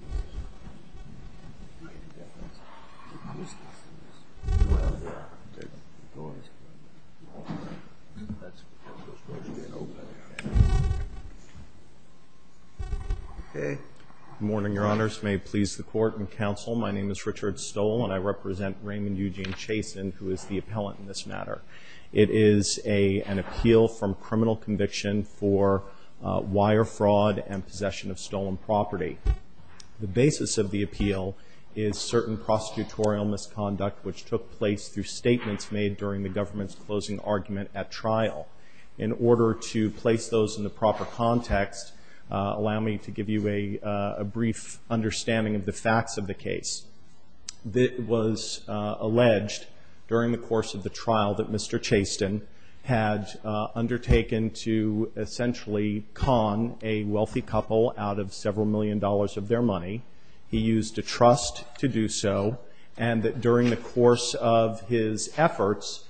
Good morning, your honors. May it please the court and counsel, my name is Richard Stoll and I represent Raymond Eugene Chasten, who is the appellant in this matter. It is an appeal is certain prosecutorial misconduct which took place through statements made during the government's closing argument at trial. In order to place those in the proper context, allow me to give you a brief understanding of the facts of the case. It was alleged during the course of the trial that Mr. Chasten had undertaken to essentially con a wealthy couple out of several million dollars of their money. He used a trust to do so and that during the course of his efforts,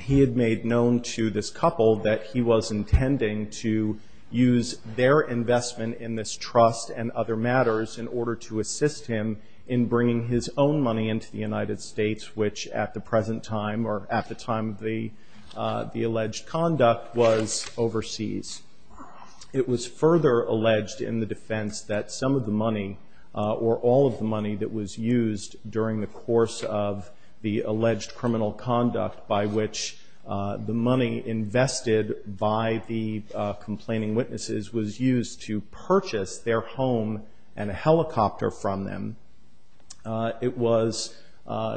he had made known to this couple that he was intending to use their investment in this trust and other matters in order to assist him in bringing his own money into the United States, which at the present time or at the time of the alleged conduct was overseas. It was further alleged in the defense that some of the money or all of the money that was used during the course of the alleged criminal conduct by which the money invested by the complaining witnesses was used to purchase their home and a helicopter from them. It was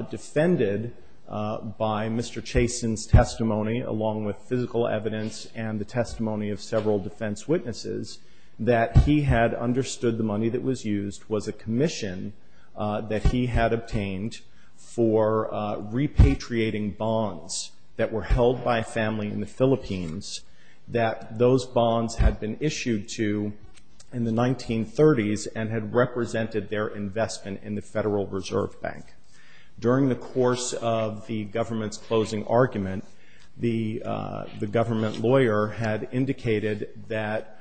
defended by Mr. Chasten's testimony along with physical evidence and the testimony of several defense witnesses that he had understood the money that was used was a commission that he had obtained for repatriating bonds that were held by a family in the Philippines that those bonds had been issued to in the 1930s and had represented their investment in the Federal Reserve Bank. During the course of the government's closing argument, the government lawyer had indicated that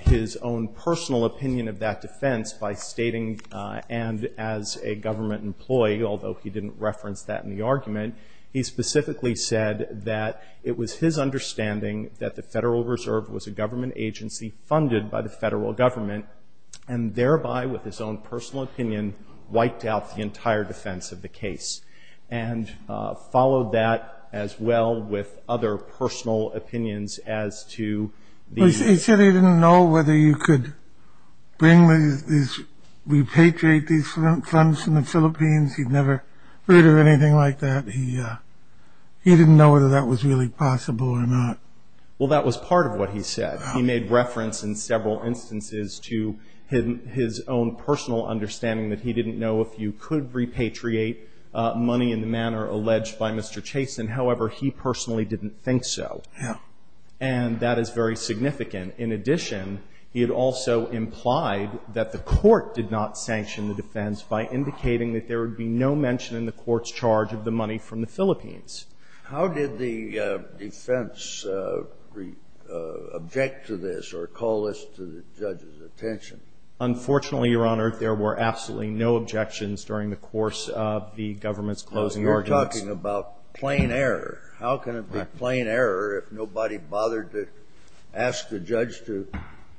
his own personal opinion of that defense by stating and as a government employee, although he didn't reference that in the case, that it was his understanding that the Federal Reserve was a government agency funded by the federal government and thereby with his own personal opinion wiped out the entire defense of the case and followed that as well with other personal opinions as to the- He said he didn't know whether you could bring these, repatriate these funds from the Philippines. Well, that was part of what he said. He made reference in several instances to his own personal understanding that he didn't know if you could repatriate money in the manner alleged by Mr. Chasten. However, he personally didn't think so. Yeah. And that is very significant. In addition, he had also implied that the court did not sanction the defense by indicating that there would be no mention in the court's charge of the money from the Philippines. How did the defense object to this or call this to the judge's attention? Unfortunately, Your Honor, there were absolutely no objections during the course of the government's closing arguments. You're talking about plain error. How can it be plain error if nobody bothered to ask the judge to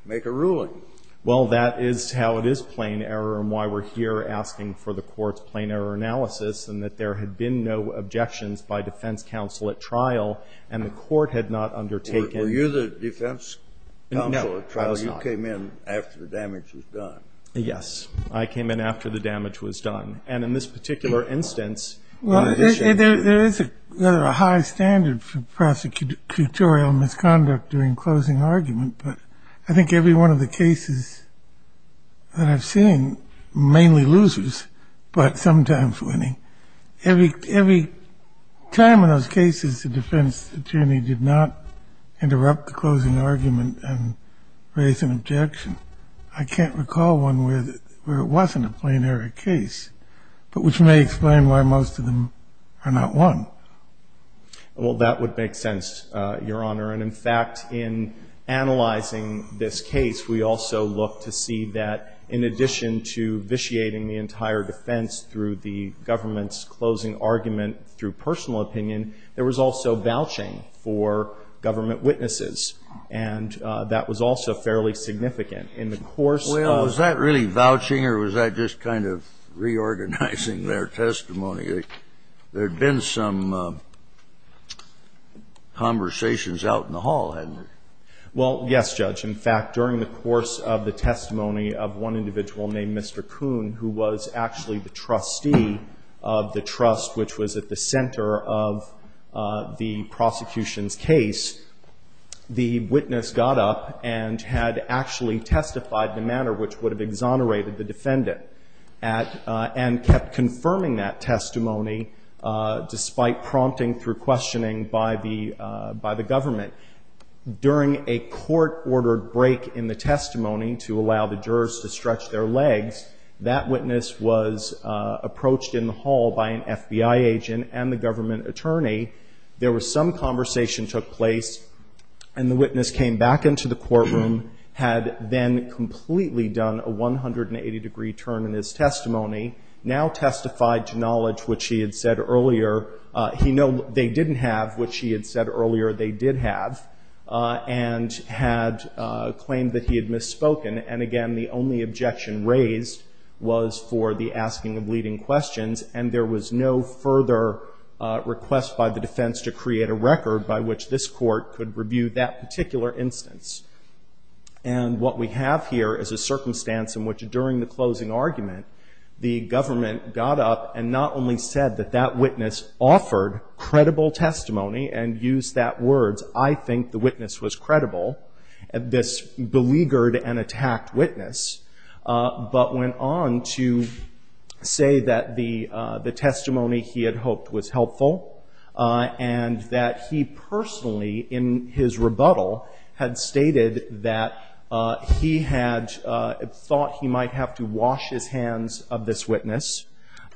make a ruling? Well, that is how it is plain error and why we're here asking for the court's plain error analysis and that there had been no objections by defense counsel at trial and the court had not undertaken. Were you the defense counsel at trial? No, I was not. You came in after the damage was done. Yes. I came in after the damage was done. And in this particular instance, in addition to the Well, there is a high standard for prosecutorial misconduct during closing argument, but I think every one of the cases that I've seen, mainly losers, but sometimes winning, every time in those cases the defense attorney did not interrupt the closing argument and raise an objection, I can't recall one where it wasn't a plain error case, but which may explain why most of them are not won. Well, that would make sense, Your Honor. And in fact, in analyzing this case, we also look to see that in addition to vitiating the entire defense through the government's closing argument through personal opinion, there was also vouching for government witnesses, and that was also fairly significant. In the course of Well, was that really vouching or was that just kind of reorganizing their testimony? There had been some conversations out in the hall, hadn't there? Well, yes, Judge. In fact, during the course of the testimony of one individual named Mr. Kuhn, who was actually the trustee of the trust, which was at the center of the prosecution's case, the witness got up and had actually testified in a manner which would have exonerated the defendant, and kept confirming that testimony despite prompting through questioning by the government. During a court-ordered break in the testimony to allow the jurors to stretch their legs, that witness was approached in the hall by an FBI agent and the government attorney. There was some conversation took place, and the witness came back into the courtroom, had then completely done a 180-degree turn in his testimony, now testified to knowledge which he had said earlier they didn't have, which he had said earlier they did have, and had claimed that he had misspoken. And again, the only objection raised was for the asking of leading questions, and there was no further request by the defense to create a record by which this court could review that particular instance. And what we have here is a circumstance in which during the closing argument, the government got up and not only said that that witness offered credible testimony and used that words, I think the witness was credible, this beleaguered and attacked witness, but went on to say that the testimony he had hoped was helpful, and that he personally in his rebuttal had stated that he had thought he might have to wash his hands of this witness,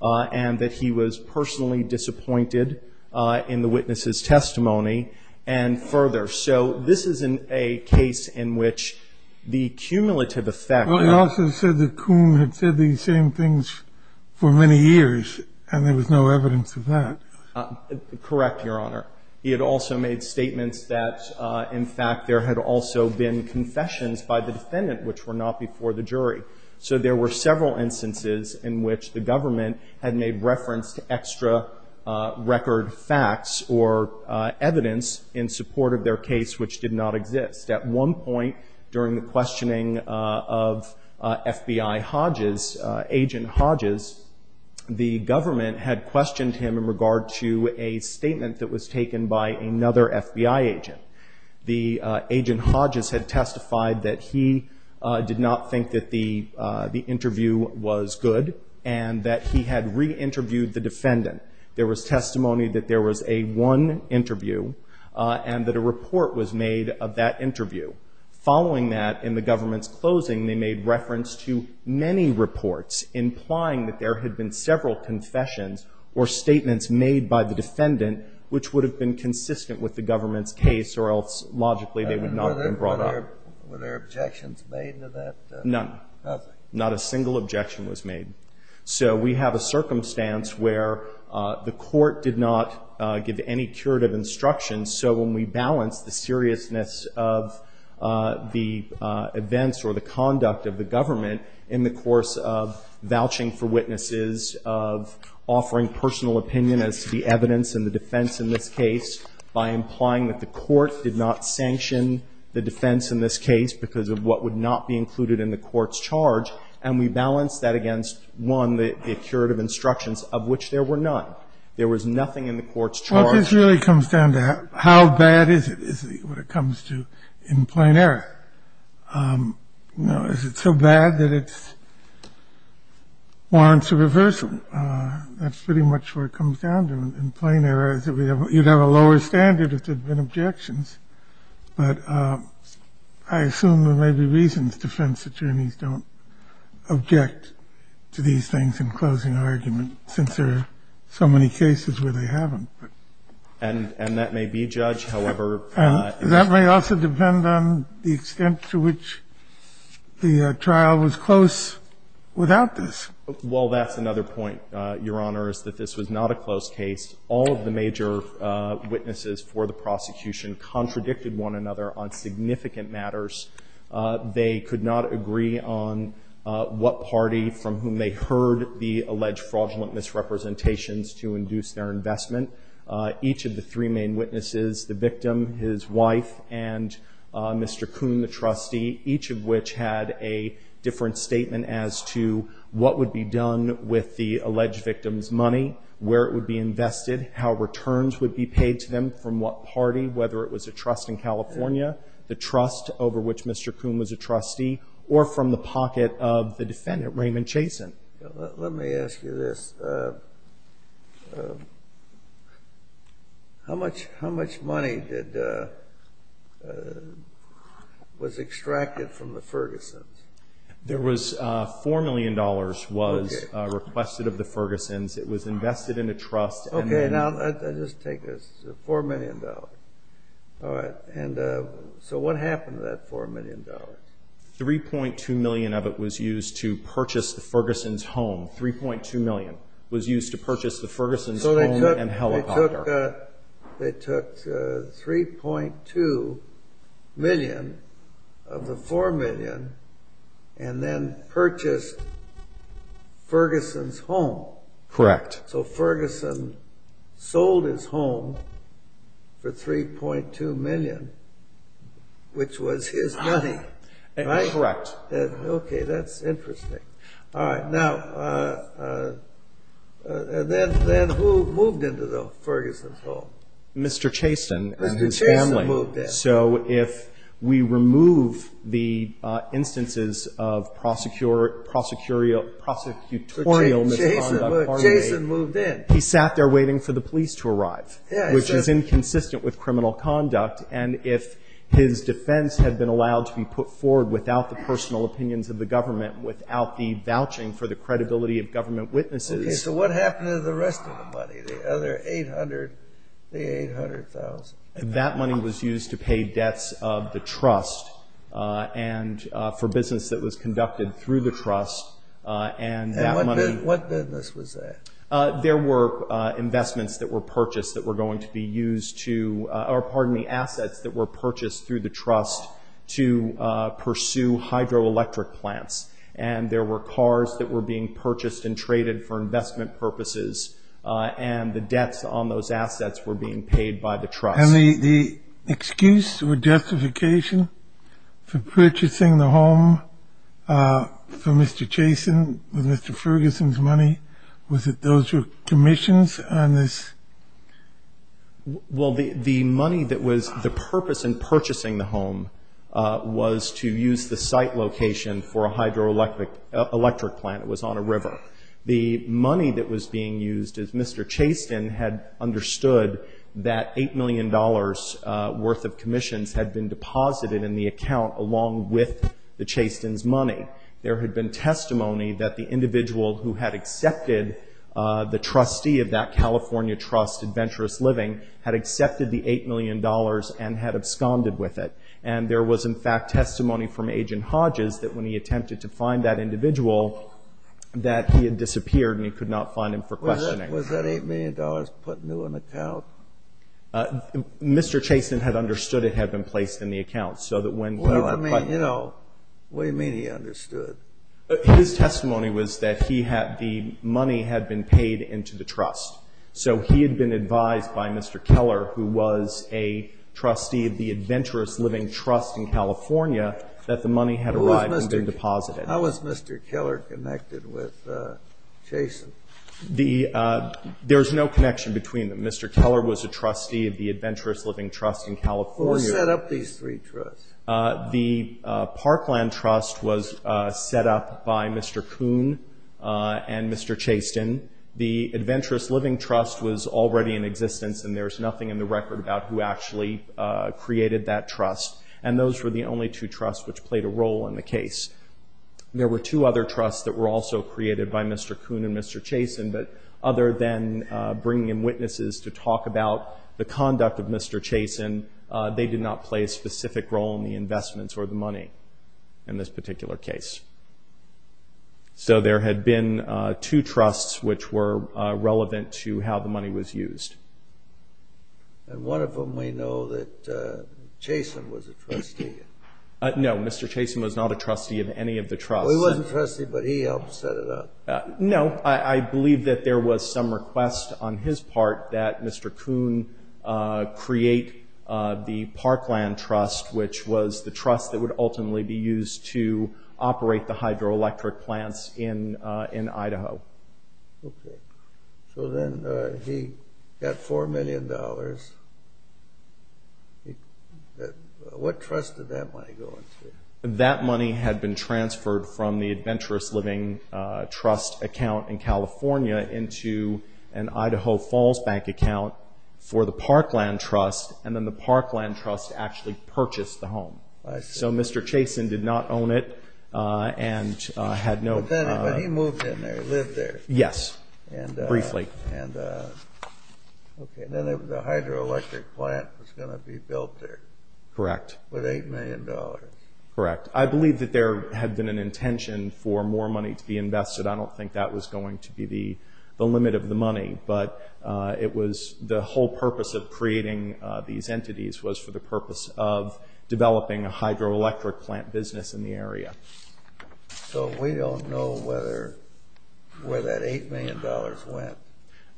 and that he was personally disappointed in the witness's testimony, and further. So this is a case in which the cumulative effect of the ---- Well, he also said that Kuhn had said these same things for many years, and there was no evidence of that. Correct, Your Honor. He had also made statements that, in fact, there had also been confessions by the defendant which were not before the jury. So there were several instances in which the government had made reference to extra record facts or evidence in support of their case which did not exist. At one point during the questioning of FBI Hodges, Agent Hodges, the government had questioned him in regard to a statement that was taken by another FBI agent. The Agent Hodges had and that he had reinterviewed the defendant. There was testimony that there was a one interview, and that a report was made of that interview. Following that, in the government's closing, they made reference to many reports implying that there had been several confessions or statements made by the defendant which would have been consistent with the government's case, or else logically they would not have been brought up. Were there objections made to that? None. Nothing. Not a single objection was made. So we have a circumstance where the court did not give any curative instructions. So when we balance the seriousness of the events or the conduct of the government in the course of vouching for witnesses, of offering personal opinion as to the evidence and the defense in this case, by implying that the court did not sanction the defense in this case because of what would not be included in the court's charge, and we balance that against, one, the curative instructions of which there were none. There was nothing in the court's charge. Well, this really comes down to how bad is it, is what it comes to, in plain error. You know, is it so bad that it warrants a reversal? That's pretty much what it comes down to in plain error, is that you'd have a lower standard if there had been objections. But I assume there may be reasons defense attorneys don't object to these things in closing argument, since there are so many cases where they haven't. And that may be, Judge, however ---- And that may also depend on the extent to which the trial was close without this. Well, that's another point, Your Honor, is that this was not a close case. All of the major witnesses for the prosecution contradicted one another on significant matters. They could not agree on what party from whom they heard the alleged fraudulent misrepresentations to induce their investment. Each of the three main witnesses, the victim, his wife, and Mr. Coon, the trustee, each of which had a different statement as to what would be done with the alleged victim's money, where it would be invested, how returns would be paid to them from what party, whether it was a trust in California, the trust over which Mr. Coon was a trustee, or from the pocket of the defendant, Raymond Chasen. Let me ask you this. How much money was extracted from the Fergusons? $4 million was requested of the Fergusons. It was invested in a trust. Okay. Now, I'll just take this. $4 million. All right. So what happened to that $4 million? $3.2 million of it was used to purchase the Fergusons' home. $3.2 million was used to purchase the Fergusons' home and helicopter. They took $3.2 million of the $4 million and then purchased Ferguson's home. Correct. So Ferguson sold his home for $3.2 million, which was his money. Correct. Okay. That's interesting. All right. Now, then who moved into the Ferguson's home? Mr. Chasen and his family. Mr. Chasen moved in. So if we remove the instances of prosecutorial misconduct. Mr. Chasen moved in. He sat there waiting for the police to arrive, which is inconsistent with criminal without the vouching for the credibility of government witnesses. Okay. So what happened to the rest of the money, the other $800,000, the $800,000? That money was used to pay debts of the trust and for business that was conducted through the trust. And that money And what business was that? There were investments that were purchased that were going to be used to, or pardon me, through the trust to pursue hydroelectric plants. And there were cars that were being purchased and traded for investment purposes. And the debts on those assets were being paid by the trust. And the excuse or justification for purchasing the home for Mr. Chasen, with Mr. Ferguson's money, was that those were commissions on this? Well, the money that was the purpose in purchasing the home was to use the site location for a hydroelectric plant that was on a river. The money that was being used is Mr. Chasen had understood that $8 million worth of commissions had been deposited in the account along with the Chasen's money. There had been testimony that the individual who had accepted the trustee of that California trust, Adventurous Living, had accepted the $8 million and had absconded with it. And there was, in fact, testimony from Agent Hodges that when he attempted to find that individual, that he had disappeared and he could not find him for questioning. Was that $8 million put into an account? Mr. Chasen had understood it had been placed in the account, so that when he put it in the account His testimony was that the money had been paid into the trust. So he had been advised by Mr. Keller, who was a trustee of the Adventurous Living Trust in California, that the money had arrived and been deposited. How was Mr. Keller connected with Chasen? There is no connection between them. Mr. Keller was a trustee of the Adventurous Living Trust in California. Who set up these three trusts? The Parkland Trust was set up by Mr. Kuhn and Mr. Chasen. The Adventurous Living Trust was already in existence, and there is nothing in the record about who actually created that trust. And those were the only two trusts which played a role in the case. There were two other trusts that were also created by Mr. Kuhn and Mr. Chasen, but other than bringing in witnesses to talk about the conduct of Mr. Chasen, they did not play a specific role in the investments or the money in this particular case. So there had been two trusts which were relevant to how the money was used. And one of them we know that Chasen was a trustee. No, Mr. Chasen was not a trustee of any of the trusts. He wasn't a trustee, but he helped set it up. No, I believe that there was some request on his part that Mr. Kuhn create the Parkland Trust, which was the trust that would ultimately be used to operate the hydroelectric plants in Idaho. Okay. So then he got $4 million. What trust did that money go into? That money had been transferred from the Adventurous Living Trust account in California into an Idaho Falls Bank account for the Parkland Trust, and then the Parkland Trust actually purchased the home. So Mr. Chasen did not own it and had no- But he moved in there, lived there. Yes, briefly. And then the hydroelectric plant was going to be built there. Correct. With $8 million. Correct. I believe that there had been an intention for more money to be invested. I don't think that was going to be the limit of the money, but it was the whole purpose of creating these entities was for the purpose of developing a hydroelectric plant business in the area. So we don't know where that $8 million went.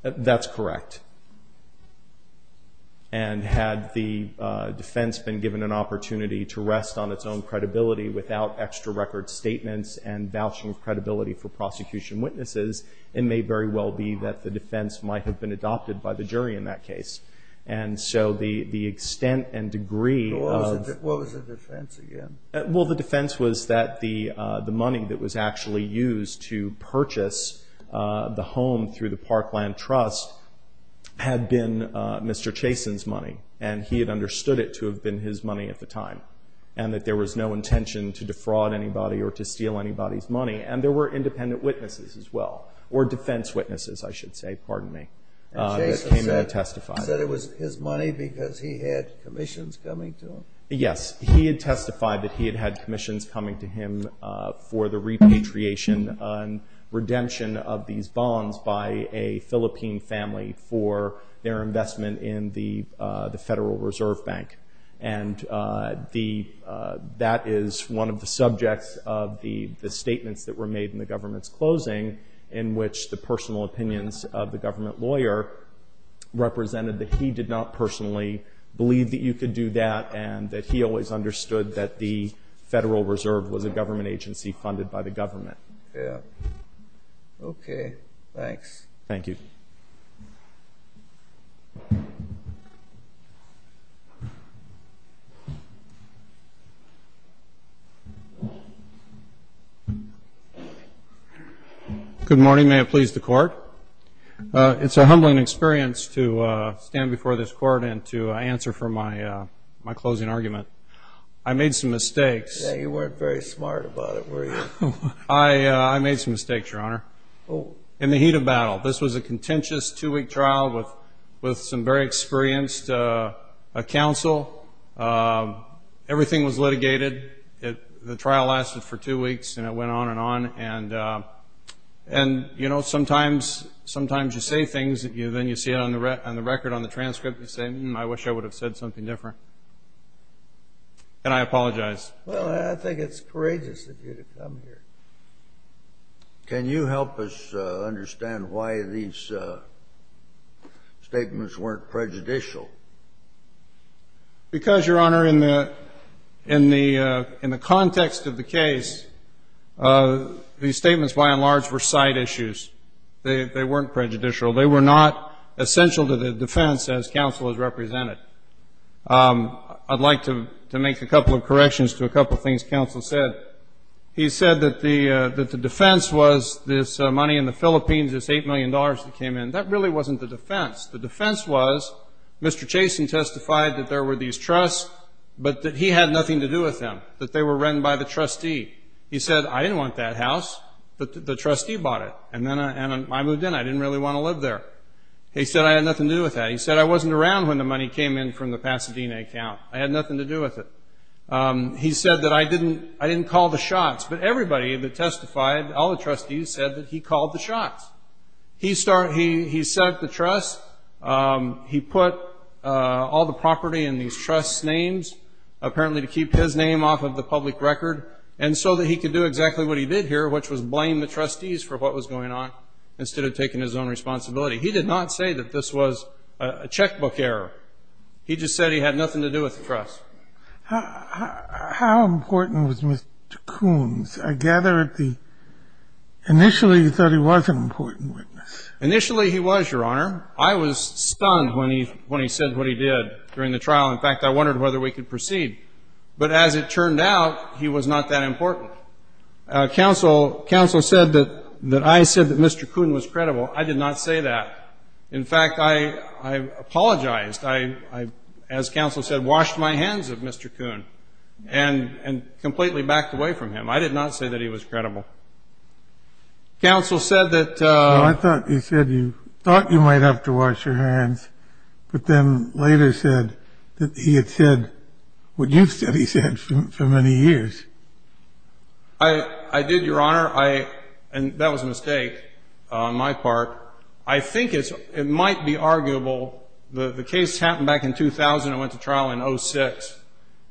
That's correct. And had the defense been given an opportunity to rest on its own credibility without extra record statements and vouching of credibility for prosecution witnesses, it may very well be that the defense might have been adopted by the jury in that case. And so the extent and degree of- What was the defense again? Well, the defense was that the money that was actually used to purchase the home through the Parkland Trust had been Mr. Chasen's money, and he had understood it to have been his money at the time, and that there was no intention to defraud anybody or to steal anybody's money. And there were independent witnesses as well, or defense witnesses, I should say. Pardon me. And Chasen said it was his money because he had commissions coming to him? Yes. He had testified that he had had commissions coming to him for the repatriation and redemption of these bonds by a Philippine family for their investment in the Federal Reserve Bank. And that is one of the subjects of the statements that were made in the government's closing in which the personal opinions of the government lawyer represented that he did not personally believe that you could do that and that he always understood that the Federal Reserve was a government agency funded by the government. Okay. Thanks. Thank you. Good morning. May it please the Court. It's a humbling experience to stand before this Court and to answer for my closing argument. I made some mistakes. You weren't very smart about it, were you? I made some mistakes, Your Honor. In the heat of battle. This was a contentious two-week trial with some very experienced counsel. Everything was litigated. The trial lasted for two weeks, and it went on and on. And, you know, sometimes you say things and then you see it on the record, on the transcript, and you say, hmm, I wish I would have said something different. And I apologize. Well, I think it's courageous of you to come here. Can you help us understand why these statements weren't prejudicial? Because, Your Honor, in the context of the case, these statements by and large were side issues. They weren't prejudicial. They were not essential to the defense as counsel has represented. I'd like to make a couple of corrections to a couple of things counsel said. He said that the defense was this money in the Philippines, this $8 million that came in. That really wasn't the defense. The defense was Mr. Chasen testified that there were these trusts, but that he had nothing to do with them, that they were run by the trustee. He said, I didn't want that house. The trustee bought it. And then I moved in. I didn't really want to live there. He said I had nothing to do with that. He said I wasn't around when the money came in from the Pasadena account. I had nothing to do with it. He said that I didn't call the shots. But everybody that testified, all the trustees, said that he called the shots. He set up the trust. He put all the property in these trust's names, apparently to keep his name off of the public record, and so that he could do exactly what he did here, which was blame the trustees for what was going on, instead of taking his own responsibility. He did not say that this was a checkbook error. He just said he had nothing to do with the trust. How important was Mr. Coons? I gather initially you thought he was an important witness. Initially he was, Your Honor. I was stunned when he said what he did during the trial. In fact, I wondered whether we could proceed. But as it turned out, he was not that important. Counsel said that I said that Mr. Coon was credible. I did not say that. In fact, I apologized. I, as counsel said, washed my hands of Mr. Coon and completely backed away from him. I did not say that he was credible. Counsel said that you thought you might have to wash your hands, but then later said that he had said what you said he said for many years. I did, Your Honor. And that was a mistake on my part. I think it might be arguable. The case happened back in 2000. I went to trial in 2006.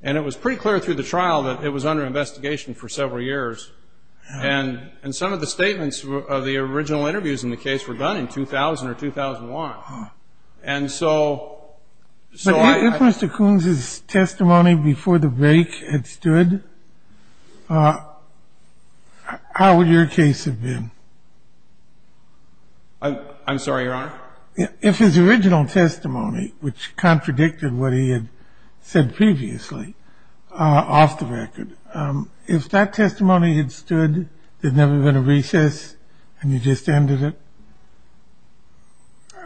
And it was pretty clear through the trial that it was under investigation for several years. And some of the statements of the original interviews in the case were done in 2000 or 2001. And so I ---- But if Mr. Coons' testimony before the break had stood, how would your case have been? I'm sorry, Your Honor? If his original testimony, which contradicted what he had said previously, off the record, if that testimony had stood, there had never been a recess, and you just ended it,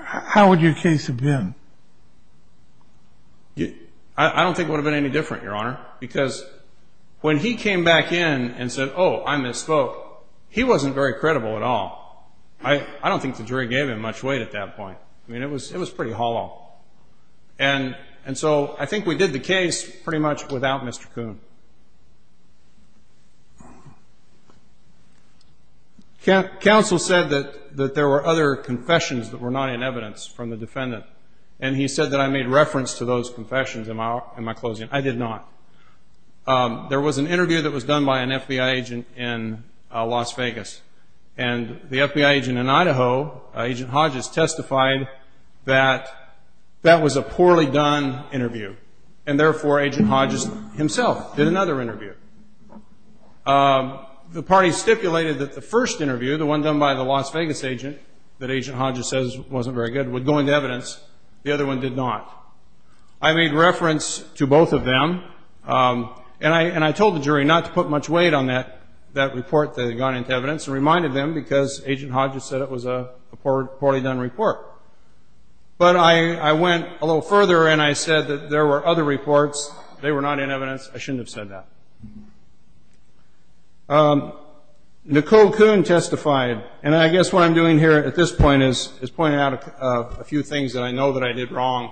how would your case have been? I don't think it would have been any different, Your Honor, because when he came back in and said, oh, I misspoke, he wasn't very credible at all. I don't think the jury gave him much weight at that point. I mean, it was pretty hollow. And so I think we did the case pretty much without Mr. Coon. Counsel said that there were other confessions that were not in evidence from the defendant. And he said that I made reference to those confessions in my closing. I did not. There was an interview that was done by an FBI agent in Las Vegas. And the FBI agent in Idaho, Agent Hodges, testified that that was a poorly done interview, and therefore Agent Hodges himself did another interview. The party stipulated that the first interview, the one done by the Las Vegas agent that Agent Hodges says wasn't very good, would go into evidence. The other one did not. I made reference to both of them. And I told the jury not to put much weight on that report that had gone into evidence and reminded them because Agent Hodges said it was a poorly done report. But I went a little further and I said that there were other reports. They were not in evidence. I shouldn't have said that. Nicole Coon testified. And I guess what I'm doing here at this point is pointing out a few things that I know that I did wrong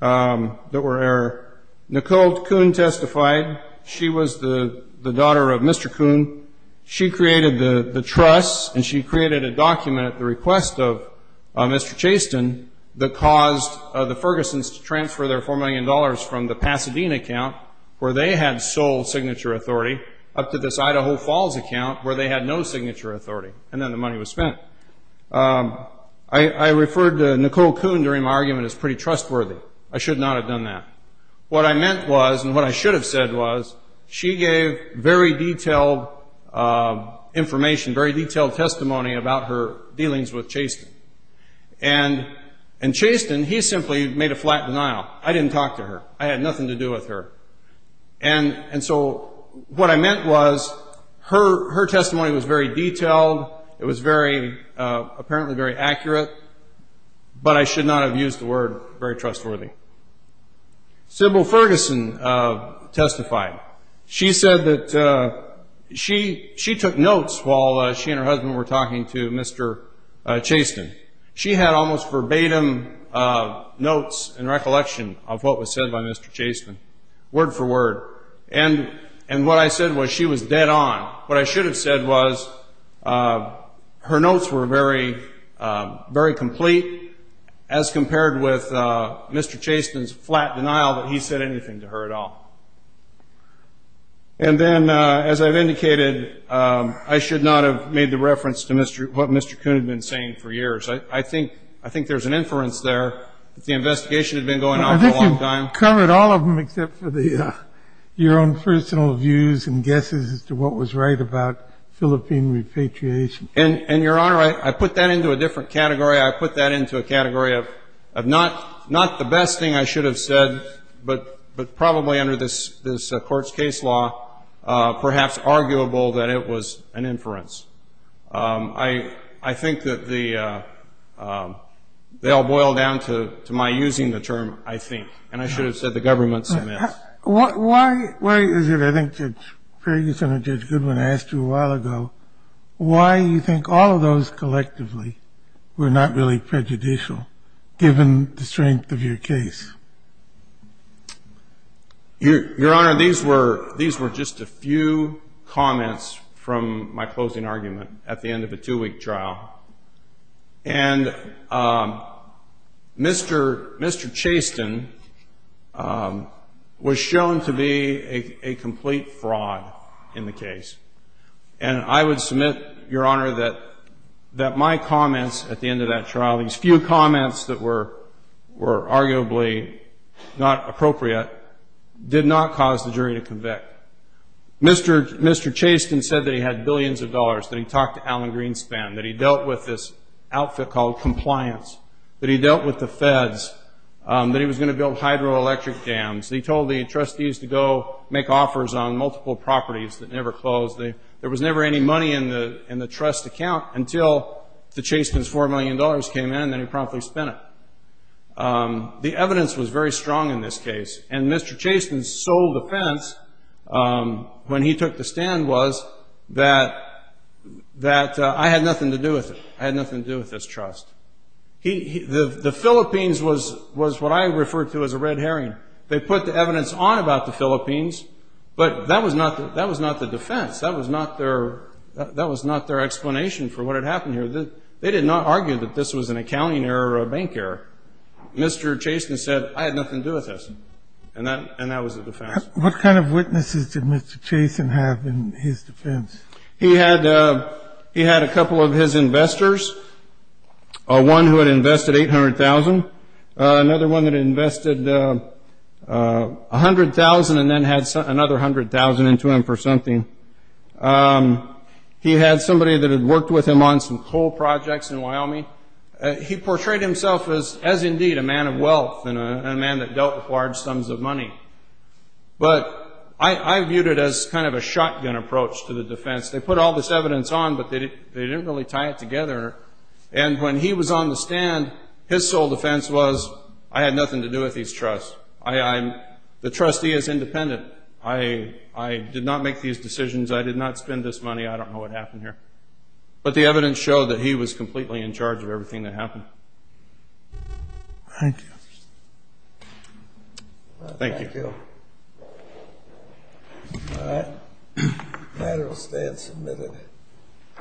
that were error. Nicole Coon testified. She was the daughter of Mr. Coon. She created the trust and she created a document at the request of Mr. Chaston that caused the Fergusons to transfer their $4 million from the Pasadena account, where they had sole signature authority, up to this Idaho Falls account, where they had no signature authority. And then the money was spent. I referred to Nicole Coon during my argument as pretty trustworthy. I should not have done that. What I meant was and what I should have said was she gave very detailed information, very detailed testimony about her dealings with Chaston. And Chaston, he simply made a flat denial. I didn't talk to her. I had nothing to do with her. And so what I meant was her testimony was very detailed. It was apparently very accurate. But I should not have used the word very trustworthy. Sybil Ferguson testified. She said that she took notes while she and her husband were talking to Mr. Chaston. She had almost verbatim notes in recollection of what was said by Mr. Chaston, word for word. And what I said was she was dead on. What I should have said was her notes were very complete, as compared with Mr. Chaston's flat denial that he said anything to her at all. And then, as I've indicated, I should not have made the reference to what Mr. Coon had been saying for years. I think there's an inference there that the investigation had been going on for a long time. I've covered all of them except for your own personal views and guesses as to what was right about Philippine repatriation. And, Your Honor, I put that into a different category. I put that into a category of not the best thing I should have said, but probably under this Court's case law perhaps arguable that it was an inference. I think that they all boil down to my using the term I think. And I should have said the government submits. Why is it I think Judge Ferguson or Judge Goodwin asked you a while ago why you think all of those collectively were not really prejudicial, given the strength of your case? Your Honor, these were just a few comments from my closing argument at the end of a two-week trial. And Mr. Chaston was shown to be a complete fraud in the case. And I would submit, Your Honor, that my comments at the end of that trial, these few comments that were arguably not appropriate, did not cause the jury to convict. Mr. Chaston said that he had billions of dollars, that he talked to Alan Greenspan, that he dealt with this outfit called compliance, that he dealt with the feds, that he was going to build hydroelectric dams. He told the trustees to go make offers on multiple properties that never closed. There was never any money in the trust account until the Chastons' $4 million came in, and then he promptly spent it. The evidence was very strong in this case. And Mr. Chaston's sole defense when he took the stand was that I had nothing to do with it. I had nothing to do with this trust. The Philippines was what I referred to as a red herring. They put the evidence on about the Philippines, but that was not the defense. That was not their explanation for what had happened here. They did not argue that this was an accounting error or a bank error. Mr. Chaston said, I had nothing to do with this, and that was the defense. What kind of witnesses did Mr. Chaston have in his defense? He had a couple of his investors, one who had invested $800,000, another one that invested $100,000 and then had another $100,000 into him for something. He had somebody that had worked with him on some coal projects in Wyoming. He portrayed himself as, indeed, a man of wealth and a man that dealt with large sums of money. But I viewed it as kind of a shotgun approach to the defense. They put all this evidence on, but they didn't really tie it together. When he was on the stand, his sole defense was, I had nothing to do with these trusts. The trustee is independent. I did not make these decisions. I did not spend this money. I don't know what happened here. But the evidence showed that he was completely in charge of everything that happened. Thank you. Thank you. All right. The matter will stand submitted.